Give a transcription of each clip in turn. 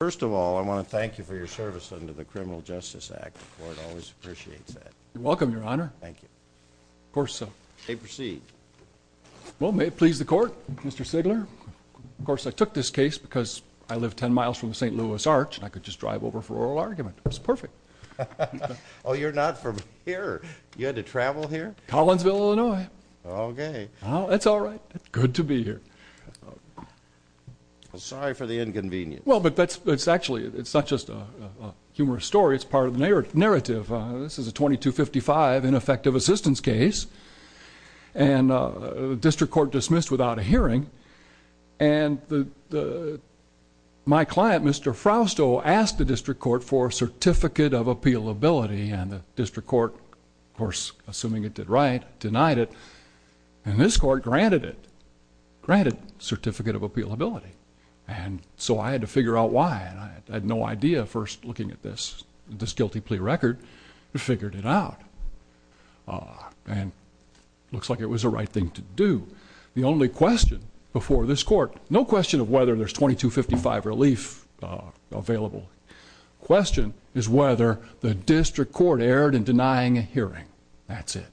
First of all, I want to thank you for your service under the Criminal Justice Act. The Court always appreciates that. You're welcome, Your Honor. Thank you. Of course, sir. You may proceed. Well, may it please the Court, Mr. Sigler. Of course, I took this case because I live ten miles from the St. Louis Arch, and I could just drive over for oral argument. It was perfect. Oh, you're not from here. You had to travel here? Collinsville, Illinois. Okay. Oh, that's all right. Good to be here. Sorry for the inconvenience. Well, but that's actually, it's not just a humorous story. It's part of the narrative. This is a 2255 ineffective assistance case, and the District Court dismissed without a hearing. And my client, Mr. Frausto, asked the District Court for a Certificate of Appealability, and the District Court, of course, assuming it did right, denied it. And this Court granted it. Granted Certificate of Appealability. And so I had to figure out why, and I had no idea first looking at this guilty plea record. I figured it out. And it looks like it was the right thing to do. The only question before this Court, no question of whether there's 2255 relief available, the question is whether the District Court erred in denying a hearing. That's it.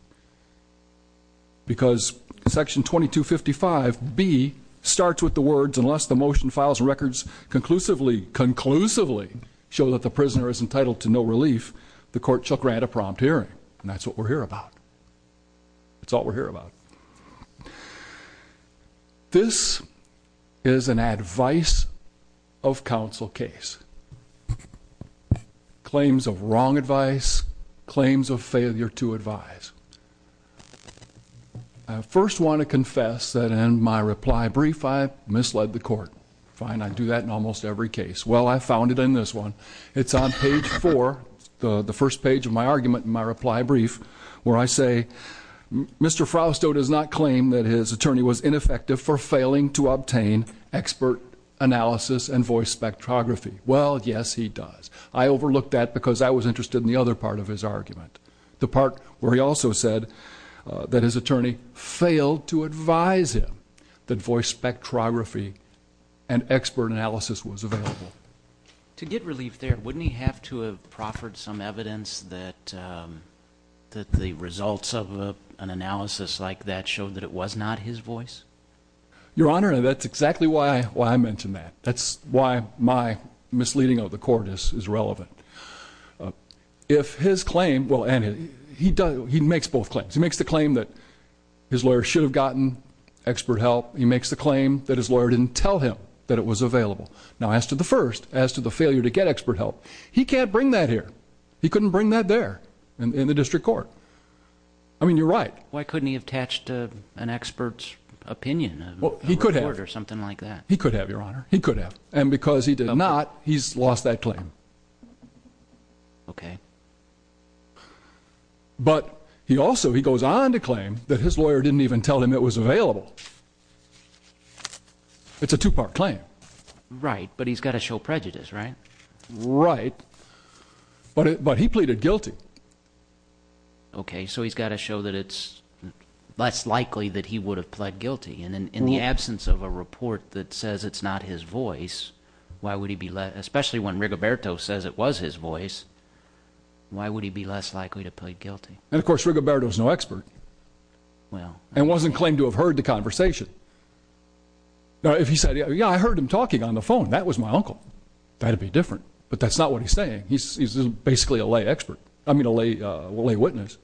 Because Section 2255B starts with the words, unless the motion files records conclusively, conclusively, show that the prisoner is entitled to no relief, the Court shall grant a prompt hearing. And that's what we're here about. That's all we're here about. This is an advice of counsel case. Claims of wrong advice, claims of failure to advise. I first want to confess that in my reply brief, I misled the court. Fine, I do that in almost every case. Well, I found it in this one. It's on page four, the first page of my argument in my reply brief, where I say, Mr. Frausto does not claim that his attorney was ineffective for failing to obtain expert analysis and voice spectrography. Well, yes, he does. I overlooked that because I was interested in the other part of his argument, the part where he also said that his attorney failed to advise him that voice spectrography and expert analysis was available. To get relief there, wouldn't he have to have proffered some evidence that the results of an analysis like that showed that it was not his voice? Your Honor, that's exactly why I mentioned that. That's why my misleading of the court is relevant. If his claim, well, he makes both claims. He makes the claim that his lawyer should have gotten expert help. He makes the claim that his lawyer didn't tell him that it was available. Now, as to the first, as to the failure to get expert help, he can't bring that here. He couldn't bring that there in the district court. I mean, you're right. Why couldn't he have attached an expert's opinion? He could have. Or something like that. He could have, Your Honor. He could have. And because he did not, he's lost that claim. Okay. But he also, he goes on to claim that his lawyer didn't even tell him it was available. It's a two-part claim. Right. But he's got to show prejudice, right? Right. But he pleaded guilty. Okay. So he's got to show that it's less likely that he would have pled guilty. And in the absence of a report that says it's not his voice, why would he be less, especially when Rigoberto says it was his voice, why would he be less likely to plead guilty? And, of course, Rigoberto is no expert. Well. And wasn't claimed to have heard the conversation. Now, if he said, yeah, I heard him talking on the phone. That was my uncle. That would be different. But that's not what he's saying. He's basically a lay expert. I mean, a lay witness.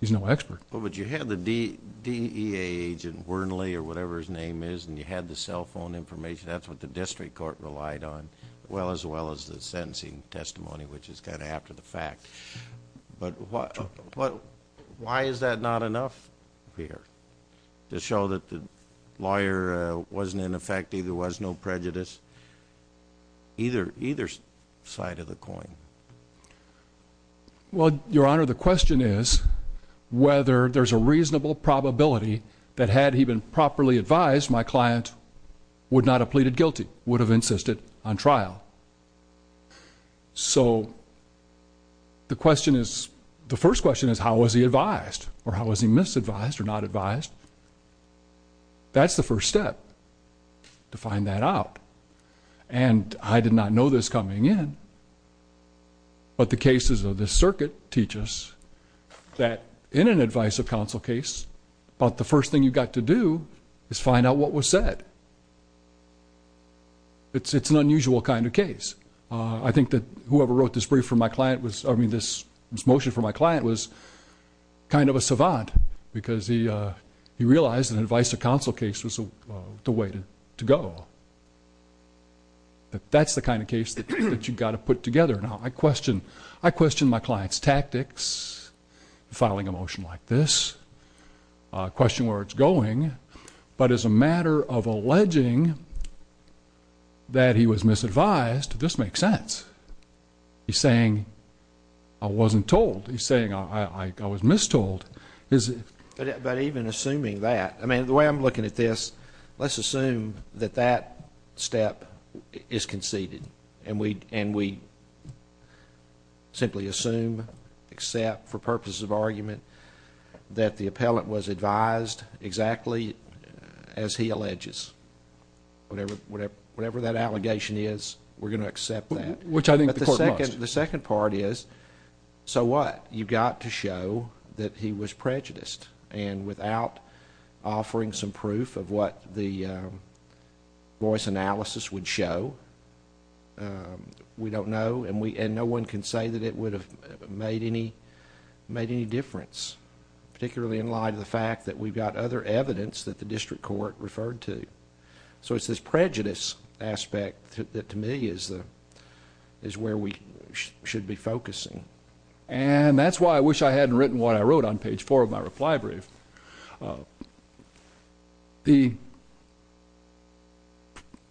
He's no expert. Well, but you had the DEA agent, Wernley or whatever his name is, and you had the cell phone information. That's what the district court relied on, as well as the sentencing testimony, which is kind of after the fact. But why is that not enough here to show that the lawyer wasn't ineffective, there was no prejudice, either side of the coin? Well, Your Honor, the question is whether there's a reasonable probability that had he been properly advised, my client would not have pleaded guilty, would have insisted on trial. So the question is, the first question is how was he advised or how was he misadvised or not advised? That's the first step to find that out. And I did not know this coming in, but the cases of this circuit teach us that in an advice of counsel case, about the first thing you've got to do is find out what was said. It's an unusual kind of case. I think that whoever wrote this motion for my client was kind of a savant because he realized an advice of counsel case was the way to go. That's the kind of case that you've got to put together. Now, I question my client's tactics, filing a motion like this, question where it's going, but as a matter of alleging that he was misadvised, this makes sense. He's saying, I wasn't told. He's saying, I was mistold. But even assuming that, I mean, the way I'm looking at this, let's assume that that step is conceded and we simply assume, except for purposes of argument, that the appellant was advised exactly as he alleges. Whatever that allegation is, we're going to accept that. Which I think the court must. The second part is, so what? You've got to show that he was prejudiced. And without offering some proof of what the voice analysis would show, we don't know and no one can say that it would have made any difference, particularly in light of the fact that we've got other evidence that the district court referred to. So it's this prejudice aspect that, to me, is where we should be focusing. And that's why I wish I hadn't written what I wrote on page four of my reply brief.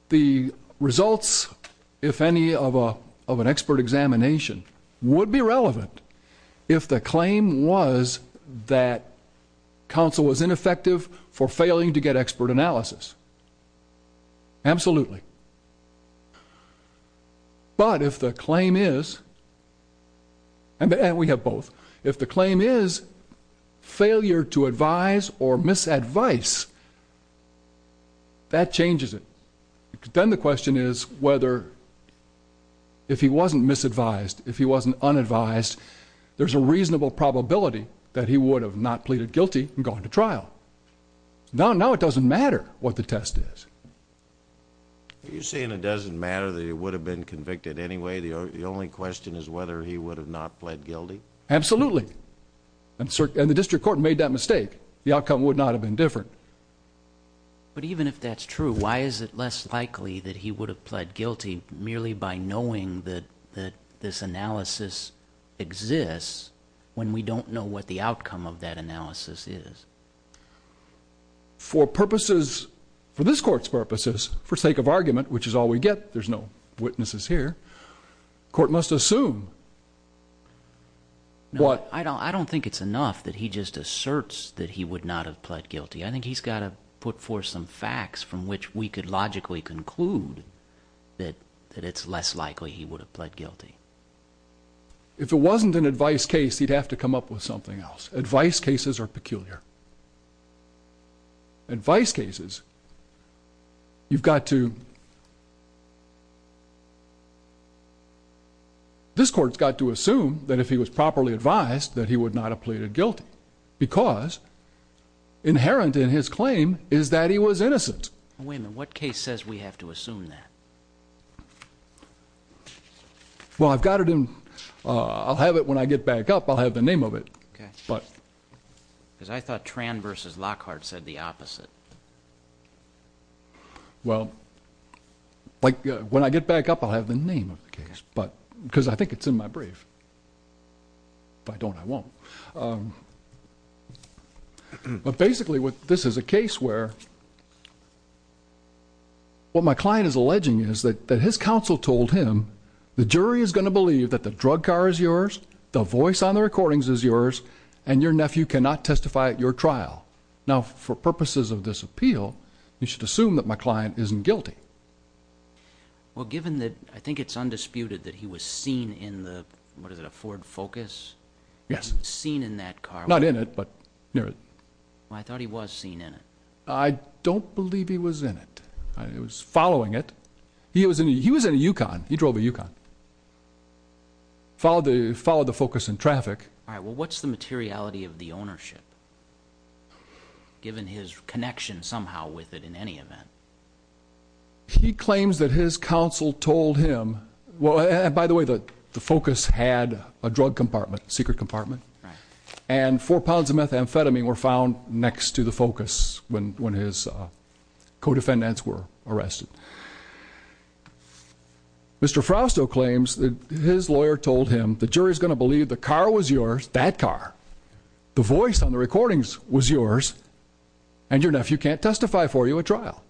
The results, if any, of an expert examination would be relevant if the claim was that counsel was ineffective for failing to get expert analysis. Absolutely. But if the claim is, and we have both, if the claim is failure to advise or misadvice, that changes it. Then the question is whether, if he wasn't misadvised, if he wasn't unadvised, there's a reasonable probability that he would have not pleaded guilty and gone to trial. Now it doesn't matter what the test is. Are you saying it doesn't matter that he would have been convicted anyway? The only question is whether he would have not pled guilty? Absolutely. And the district court made that mistake. The outcome would not have been different. But even if that's true, why is it less likely that he would have pled guilty merely by knowing that this analysis exists when we don't know what the outcome of that analysis is? For purposes, for this court's purposes, for sake of argument, which is all we get, there's no witnesses here, the court must assume. I don't think it's enough that he just asserts that he would not have pled guilty. I think he's got to put forth some facts from which we could logically conclude that it's less likely he would have pled guilty. If it wasn't an advice case, he'd have to come up with something else. Advice cases are peculiar. Advice cases, you've got to... This court's got to assume that if he was properly advised that he would not have pleaded guilty because inherent in his claim is that he was innocent. Wait a minute. What case says we have to assume that? Well, I've got it in... I'll have it when I get back up. I'll have the name of it. Because I thought Tran v. Lockhart said the opposite. Well, when I get back up, I'll have the name of the case. Because I think it's in my brief. If I don't, I won't. But basically, this is a case where what my client is alleging is that his counsel told him, the jury is going to believe that the drug car is yours, the voice on the recordings is yours, and your nephew cannot testify at your trial. Now, for purposes of this appeal, you should assume that my client isn't guilty. Well, given that I think it's undisputed that he was seen in the, what is it, a Ford Focus? Yes. Seen in that car? Not in it, but near it. Well, I thought he was seen in it. I don't believe he was in it. He was following it. He was in a Yukon. He drove a Yukon. Followed the Focus in traffic. All right. Well, what's the materiality of the ownership, given his connection somehow with it in any event? He claims that his counsel told him, well, and by the way, the Focus had a drug compartment, secret compartment. And four pounds of methamphetamine were found next to the Focus when his co-defendants were arrested. Mr. Frostow claims that his lawyer told him the jury is going to believe the car was yours, that car, the voice on the recordings was yours, and your nephew can't testify for you at trial.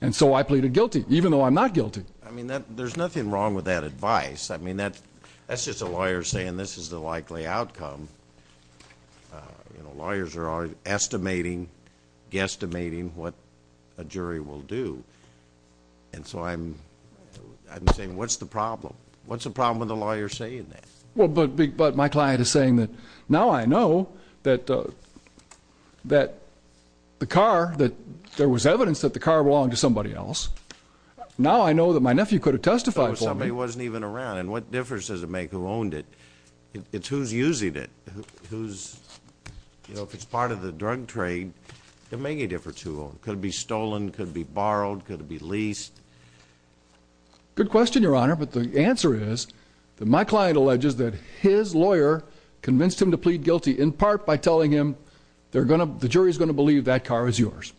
And so I pleaded guilty, even though I'm not guilty. I mean, there's nothing wrong with that advice. I mean, that's just a lawyer saying this is the likely outcome. You know, lawyers are always estimating, guesstimating what a jury will do. And so I'm saying what's the problem? What's the problem with a lawyer saying that? Well, but my client is saying that now I know that the car, that there was evidence that the car belonged to somebody else. Now I know that my nephew could have testified for me. Somebody wasn't even around. And what difference does it make who owned it? It's who's using it. Who's, you know, if it's part of the drug trade, it'll make a difference who owns it. Could it be stolen? Could it be borrowed? Could it be leased? Good question, Your Honor. But the answer is that my client alleges that his lawyer convinced him to plead guilty, in part by telling him the jury's going to believe that car is yours.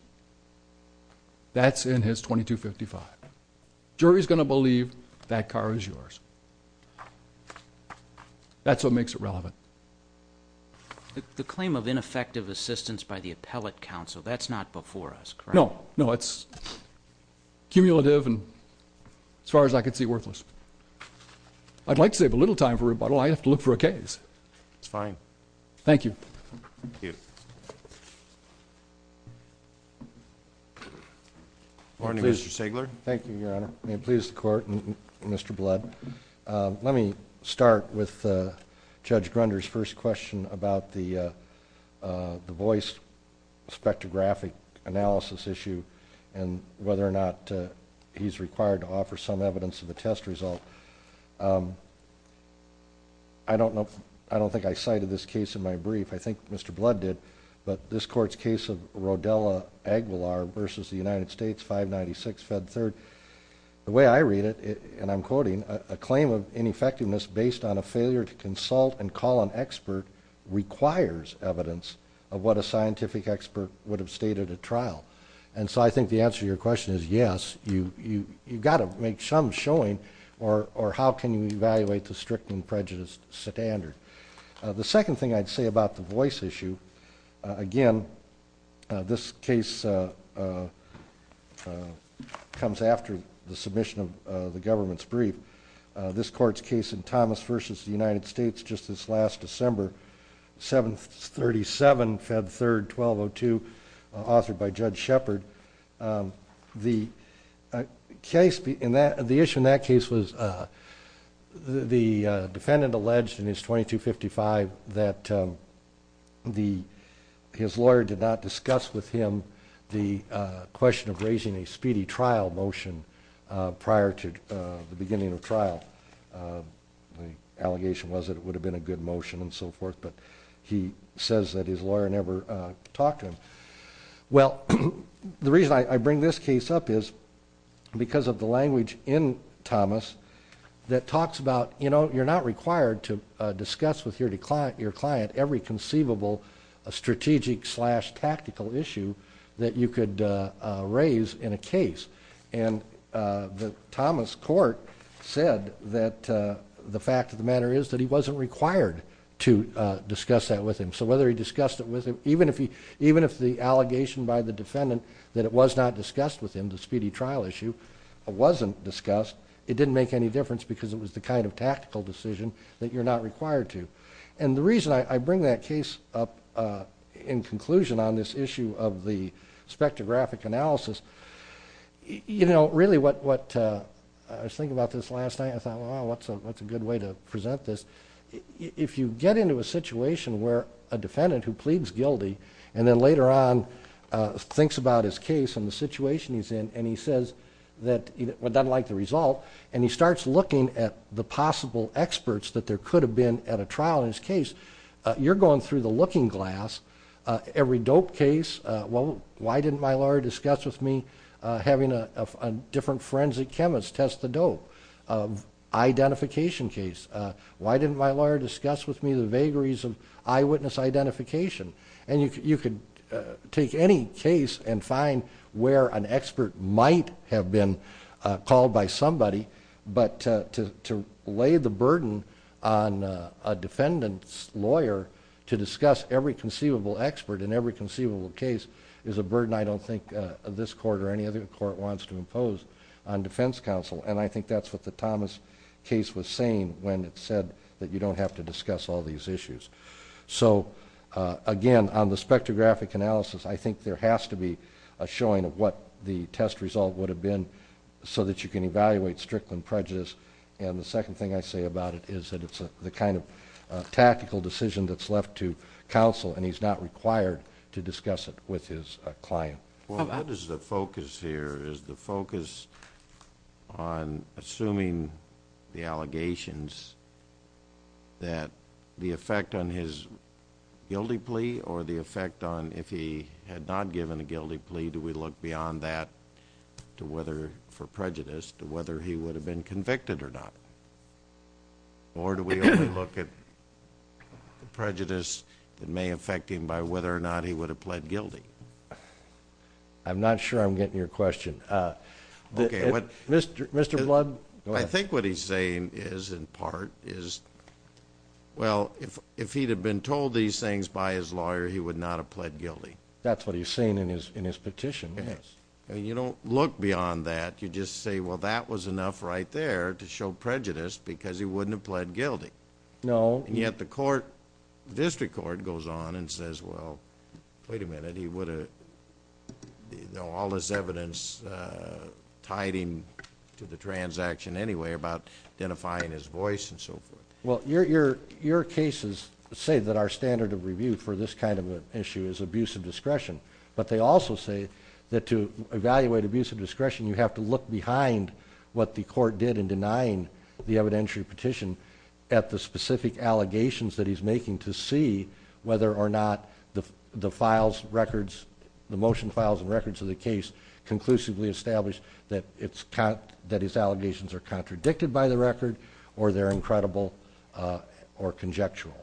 That's in his 2255. Jury's going to believe that car is yours. That's what makes it relevant. The claim of ineffective assistance by the appellate counsel, that's not before us, correct? No. No, it's cumulative and, as far as I can see, worthless. I'd like to save a little time for rebuttal. I'd have to look for a case. That's fine. Thank you. Thank you. Your Honor, Mr. Stegler. Thank you, Your Honor. May it please the Court and Mr. Blood. Let me start with Judge Grunder's first question about the voice spectrographic analysis issue and whether or not he's required to offer some evidence of the test result. I don't think I cited this case in my brief. I think Mr. Blood did. But this Court's case of Rodella Aguilar v. the United States, 596, Fed 3rd, the way I read it, and I'm quoting, a claim of ineffectiveness based on a failure to consult and call an expert requires evidence of what a scientific expert would have stated at trial. And so I think the answer to your question is yes, you've got to make some showing or how can you evaluate the strict and prejudiced standard. The second thing I'd say about the voice issue, again, this case comes after the submission of the government's brief. This Court's case in Thomas v. the United States just this last December, 737, Fed 3rd, 1202, authored by Judge Shepard, the issue in that case was the defendant alleged in his 2255 that his lawyer did not discuss with him the question of raising a speedy trial motion prior to the beginning of trial. The allegation was that it would have been a good motion and so forth, but he says that his lawyer never talked to him. Well, the reason I bring this case up is because of the language in Thomas that talks about, you know, you're not required to discuss with your client every conceivable strategic-slash-tactical issue that you could raise in a case. And the Thomas Court said that the fact of the matter is that he wasn't required to discuss that with him. So whether he discussed it with him, even if the allegation by the defendant that it was not discussed with him, the speedy trial issue, wasn't discussed, it didn't make any difference because it was the kind of tactical decision that you're not required to. And the reason I bring that case up in conclusion on this issue of the spectrographic analysis, you know, really what I was thinking about this last night, I thought, well, what's a good way to present this? If you get into a situation where a defendant who pleads guilty and then later on thinks about his case and the situation he's in and he says that he doesn't like the result and he starts looking at the possible experts that there could have been at a trial in his case, you're going through the looking glass. Every dope case, well, why didn't my lawyer discuss with me having a different forensic chemist test the dope? Identification case, why didn't my lawyer discuss with me the vagaries of eyewitness identification? And you can take any case and find where an expert might have been called by somebody, but to lay the burden on a defendant's lawyer to discuss every conceivable expert in every conceivable case is a burden I don't think this court or any other court wants to impose on defense counsel. And I think that's what the Thomas case was saying when it said that you don't have to discuss all these issues. So, again, on the spectrographic analysis, I think there has to be a showing of what the test result would have been so that you can evaluate Strickland prejudice. And the second thing I say about it is that it's the kind of tactical decision that's left to counsel and he's not required to discuss it with his client. Well, what is the focus here? Is the focus on assuming the allegations that the effect on his guilty plea or the effect on if he had not given a guilty plea, do we look beyond that to whether for prejudice to whether he would have been convicted or not? Or do we only look at the prejudice that may affect him by whether or not he would have pled guilty? I'm not sure I'm getting your question. Mr. Blood, go ahead. I think what he's saying is in part is, well, if he'd have been told these things by his lawyer, he would not have pled guilty. That's what he's saying in his petition, yes. You don't look beyond that. You just say, well, that was enough right there to show prejudice because he wouldn't have pled guilty. No. And yet the court, district court goes on and says, well, wait a minute, he would have, all this evidence tied him to the transaction anyway about identifying his voice and so forth. Well, your cases say that our standard of review for this kind of an issue is abuse of discretion, but they also say that to evaluate abuse of discretion you have to look behind what the court did in denying the evidentiary petition at the specific allegations that he's making to see whether or not the files, records, the motion files and records of the case conclusively establish that it's, that his allegations are contradicted by the record or they're incredible or conjectural.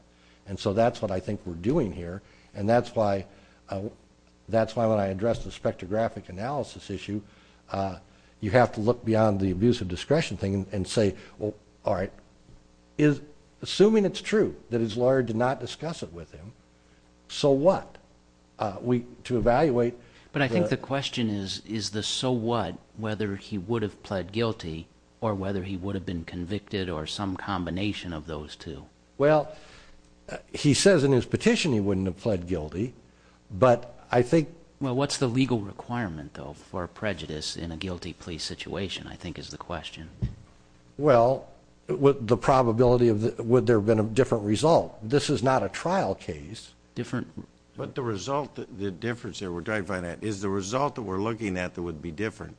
And so that's what I think we're doing here. And that's why when I address the spectrographic analysis issue, you have to look beyond the abuse of discretion thing and say, well, all right, assuming it's true that his lawyer did not discuss it with him, so what? To evaluate. But I think the question is, is the so what whether he would have pled guilty or whether he would have been convicted or some combination of those two. Well, he says in his petition he wouldn't have pled guilty, but I think. Well, what's the legal requirement, though, for prejudice in a guilty plea situation I think is the question. Well, the probability of would there have been a different result? This is not a trial case. Different. But the result, the difference there, we're trying to find out, is the result that we're looking at that would be different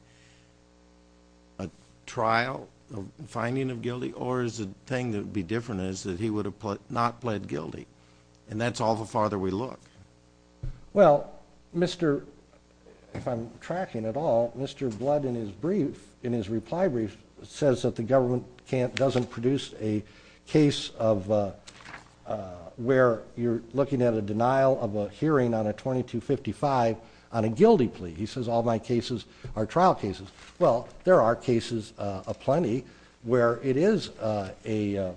a trial, a finding of guilty, or is the thing that would be different is that he would have not pled guilty? And that's all the farther we look. Well, Mr. If I'm tracking at all, Mr. Blood in his brief, in his reply brief, says that the government doesn't produce a case of where you're looking at a denial of a hearing on a 2255 on a guilty plea. He says all my cases are trial cases. Well, there are cases aplenty where it is a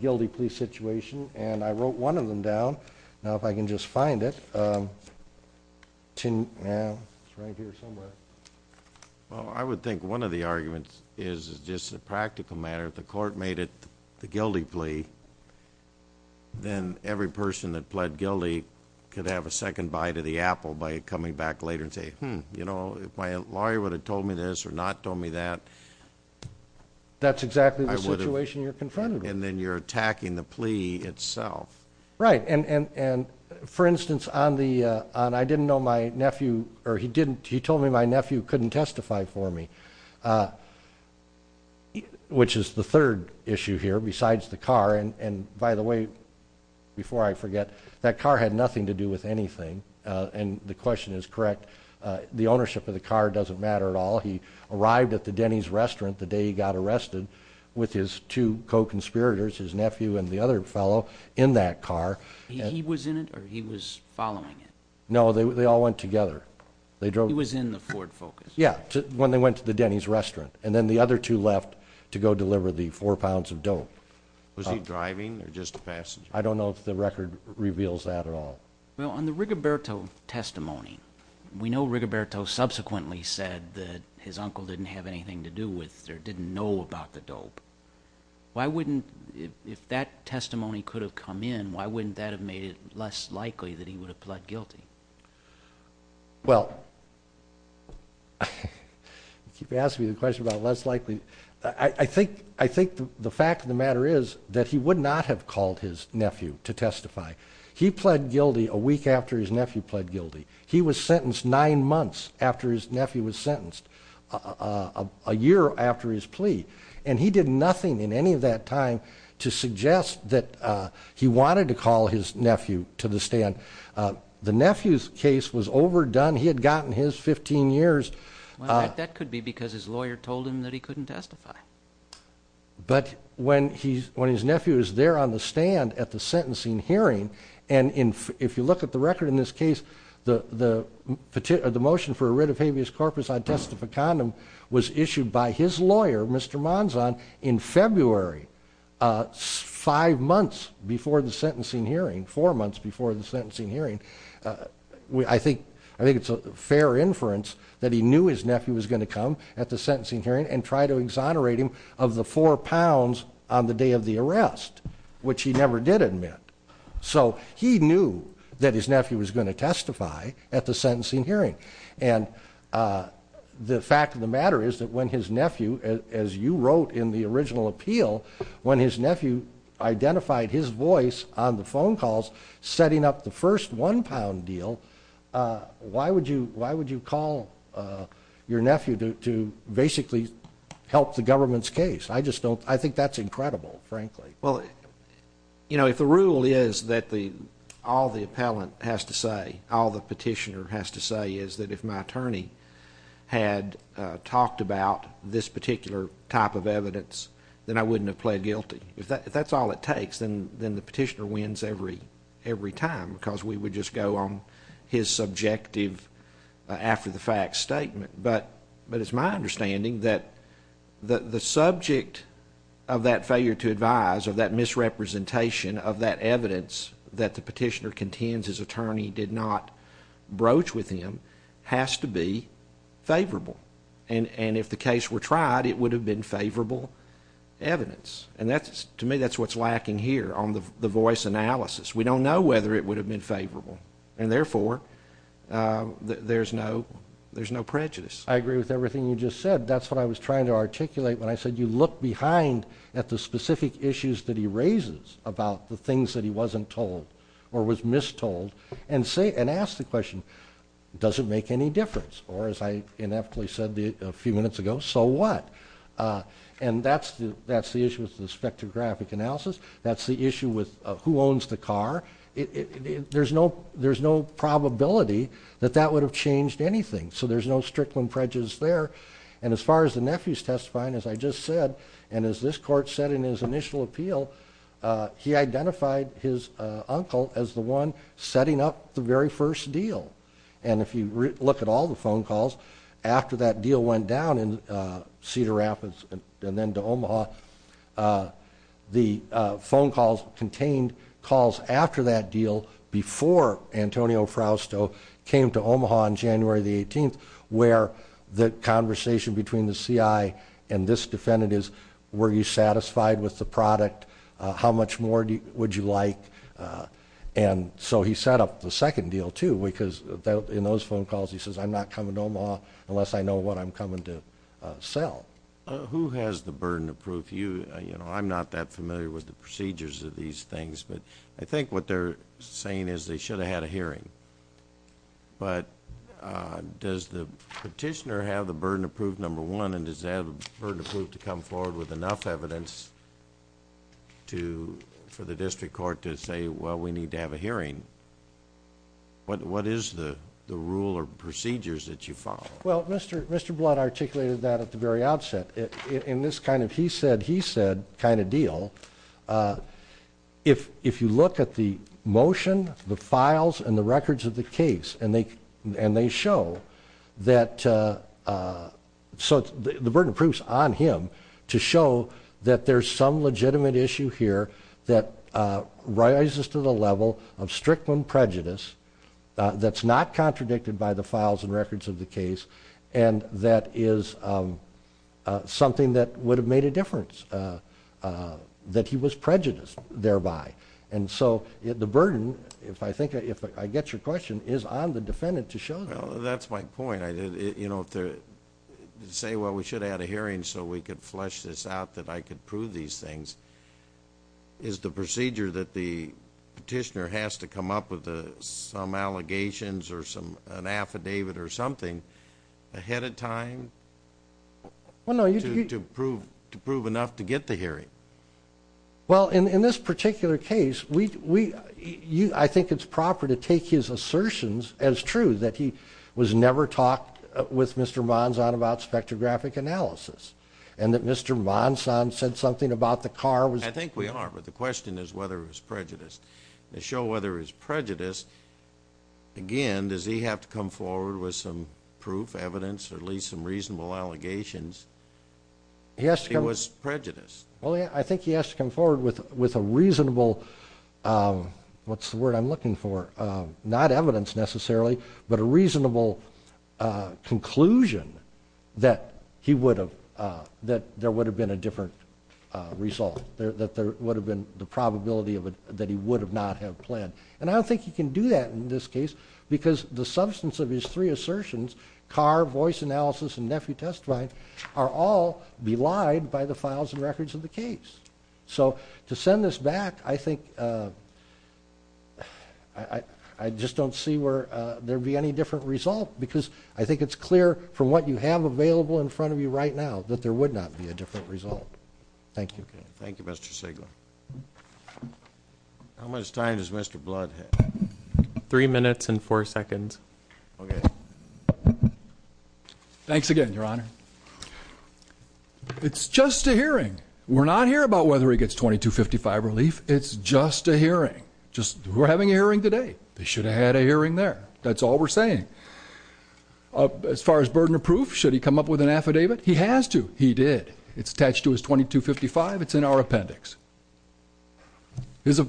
guilty plea situation, and I wrote one of them down. Now, if I can just find it. It's right here somewhere. Well, I would think one of the arguments is just a practical matter. If the court made it the guilty plea, then every person that pled guilty could have a second bite of the apple by coming back later and saying, hmm, you know, if my lawyer would have told me this or not told me that. That's exactly the situation you're confronted with. And then you're attacking the plea itself. Right. And, for instance, on the I didn't know my nephew, or he told me my nephew couldn't testify for me, which is the third issue here besides the car. And, by the way, before I forget, that car had nothing to do with anything. And the question is correct. The ownership of the car doesn't matter at all. He arrived at the Denny's restaurant the day he got arrested with his two co-conspirators, his nephew and the other fellow, in that car. He was in it or he was following it? No, they all went together. He was in the Ford Focus? Yeah, when they went to the Denny's restaurant. And then the other two left to go deliver the four pounds of dough. Was he driving or just a passenger? I don't know if the record reveals that at all. Well, on the Rigoberto testimony, we know Rigoberto subsequently said that his uncle didn't have anything to do with or didn't know about the dope. If that testimony could have come in, why wouldn't that have made it less likely that he would have pled guilty? Well, you keep asking me the question about less likely. I think the fact of the matter is that he would not have called his nephew to testify. He pled guilty a week after his nephew pled guilty. He was sentenced nine months after his nephew was sentenced, a year after his plea. And he did nothing in any of that time to suggest that he wanted to call his nephew to the stand. The nephew's case was overdone. He had gotten his 15 years. That could be because his lawyer told him that he couldn't testify. But when his nephew is there on the stand at the sentencing hearing, and if you look at the record in this case, the motion for a writ of habeas corpus on testificandum was issued by his lawyer, Mr. Manzan, in February, five months before the sentencing hearing, four months before the sentencing hearing. I think it's a fair inference that he knew his nephew was going to come at the sentencing hearing and try to exonerate him of the four pounds on the day of the arrest, which he never did admit. So he knew that his nephew was going to testify at the sentencing hearing. And the fact of the matter is that when his nephew, as you wrote in the original appeal, when his nephew identified his voice on the phone calls setting up the first one-pound deal, why would you call your nephew to basically help the government's case? I think that's incredible, frankly. Well, you know, if the rule is that all the appellant has to say, all the petitioner has to say, is that if my attorney had talked about this particular type of evidence, then I wouldn't have pled guilty. If that's all it takes, then the petitioner wins every time because we would just go on his subjective after-the-fact statement. But it's my understanding that the subject of that failure to advise, of that misrepresentation of that evidence that the petitioner contends his attorney did not broach with him, has to be favorable. And if the case were tried, it would have been favorable evidence. And to me, that's what's lacking here on the voice analysis. We don't know whether it would have been favorable, and therefore there's no prejudice. I agree with everything you just said. That's what I was trying to articulate when I said you look behind at the specific issues that he raises about the things that he wasn't told or was mistold and ask the question, does it make any difference? Or, as I inevitably said a few minutes ago, so what? That's the issue with who owns the car. There's no probability that that would have changed anything. So there's no Strickland prejudice there. And as far as the nephew's testifying, as I just said, and as this court said in his initial appeal, he identified his uncle as the one setting up the very first deal. And if you look at all the phone calls after that deal went down in Cedar Rapids and then to Omaha, the phone calls contained calls after that deal, before Antonio Frausto came to Omaha on January the 18th, where the conversation between the CI and this defendant is, were you satisfied with the product? How much more would you like? And so he set up the second deal, too, because in those phone calls he says, I'm not coming to Omaha unless I know what I'm coming to sell. Who has the burden of proof? I'm not that familiar with the procedures of these things, but I think what they're saying is they should have had a hearing. But does the petitioner have the burden of proof, number one, and does he have the burden of proof to come forward with enough evidence for the district court to say, well, we need to have a hearing? What is the rule or procedures that you follow? Well, Mr. Blood articulated that at the very outset. In this kind of he said, he said kind of deal, if you look at the motion, the files, and the records of the case and they show that the burden of proof is on him to show that there's some legitimate issue here that rises to the level of strict prejudice that's not contradicted by the files and records of the case and that is something that would have made a difference, that he was prejudiced thereby. And so the burden, if I get your question, is on the defendant to show that. Well, that's my point. You know, to say, well, we should have had a hearing so we could flesh this out, that I could prove these things, is the procedure that the petitioner has to come up with some allegations or an affidavit or something ahead of time to prove enough to get the hearing? Well, in this particular case, I think it's proper to take his assertions as true, that he was never talked with Mr. Monson about spectrographic analysis and that Mr. Monson said something about the car. I think we are, but the question is whether it was prejudiced. To show whether it was prejudiced, again, does he have to come forward with some proof, evidence, or at least some reasonable allegations that he was prejudiced? Well, I think he has to come forward with a reasonable, what's the word I'm looking for, not evidence necessarily, but a reasonable conclusion that he would have, that there would have been a different result, that there would have been the probability that he would not have pled. And I don't think he can do that in this case because the substance of his three assertions, car, voice analysis, and nephew testifying are all belied by the files and records of the case. So to send this back, I think I just don't see where there would be any different result because I think it's clear from what you have available in front of you right now that there would not be a different result. Thank you. Thank you, Mr. Sigler. How much time does Mr. Blood have? Three minutes and four seconds. Okay. Thanks again, Your Honor. It's just a hearing. We're not here about whether he gets 2255 relief. It's just a hearing. We're having a hearing today. They should have had a hearing there. That's all we're saying. As far as burden of proof, should he come up with an affidavit? He has to. He did. It's attached to his 2255. It's in our appendix. His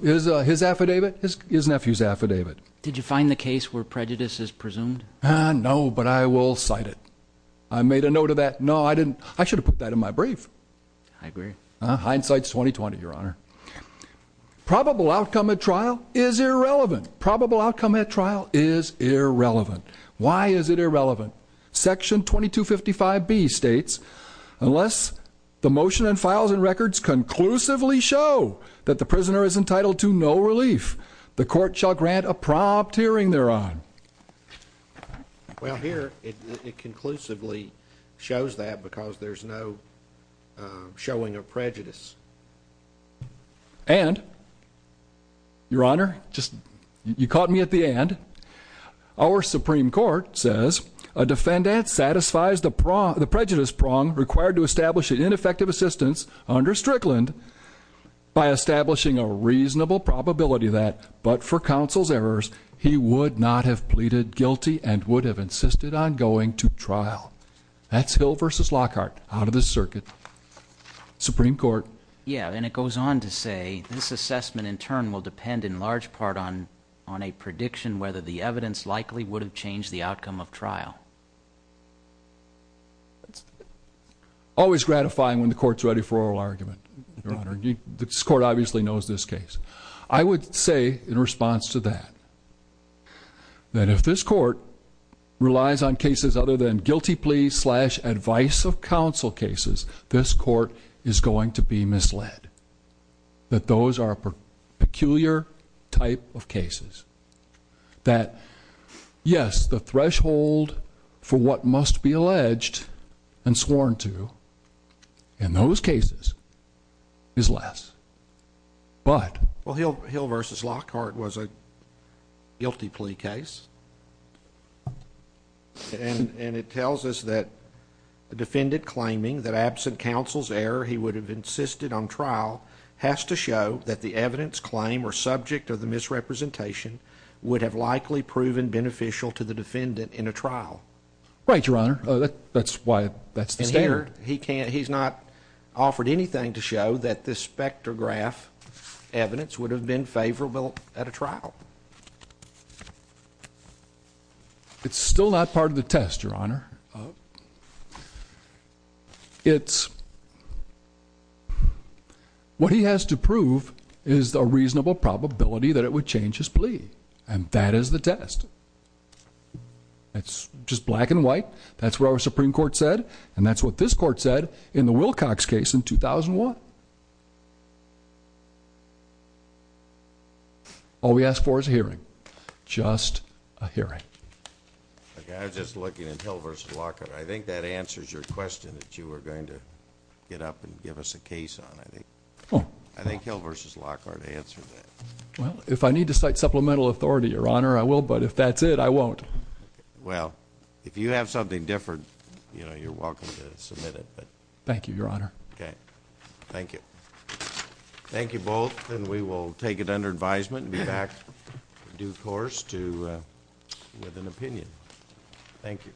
affidavit, his nephew's affidavit. Did you find the case where prejudice is presumed? No, but I will cite it. I made a note of that. No, I didn't. I should have put that in my brief. I agree. Hindsight's 20-20, Your Honor. Probable outcome at trial is irrelevant. Probable outcome at trial is irrelevant. Why is it irrelevant? Section 2255B states, unless the motion and files and records conclusively show that the prisoner is entitled to no relief, the court shall grant a prompt hearing thereon. Well, here it conclusively shows that because there's no showing of prejudice. And, Your Honor, you caught me at the end. Our Supreme Court says, a defendant satisfies the prejudice prong required to establish an ineffective assistance under Strickland by establishing a reasonable probability that, but for counsel's errors, he would not have pleaded guilty and would have insisted on going to trial. That's Hill v. Lockhart out of this circuit. Supreme Court. Yeah, and it goes on to say, this assessment in turn will depend in large part on a prediction whether the evidence likely would have changed the outcome of trial. That's it. Always gratifying when the court's ready for oral argument, Your Honor. This court obviously knows this case. I would say, in response to that, that if this court relies on cases other than guilty plea slash advice of counsel cases, this court is going to be misled. That those are a peculiar type of cases. That, yes, the threshold for what must be alleged and sworn to in those cases is less. But. Well, Hill v. Lockhart was a guilty plea case. And it tells us that a defendant claiming that absent counsel's error he would have insisted on trial has to show that the evidence claim or subject of the misrepresentation would have likely proven beneficial to the defendant in a trial. Right, Your Honor. That's why that's the standard. He can't. He's not offered anything to show that this spectrograph evidence would have been favorable at a trial. It's still not part of the test, Your Honor. It's. What he has to prove is a reasonable probability that it would change his plea. And that is the test. It's just black and white. That's what our Supreme Court said. And that's what this court said in the Wilcox case in 2001. All we ask for is a hearing. Just a hearing. I was just looking at Hill v. Lockhart. I think that answers your question that you were going to get up and give us a case on, I think. I think Hill v. Lockhart answered that. Well, if I need to cite supplemental authority, Your Honor, I will. But if that's it, I won't. Well, if you have something different, you know, you're welcome to submit it. Thank you, Your Honor. Okay. Thank you. Thank you both. And we will take it under advisement and be back due course with an opinion. Thank you.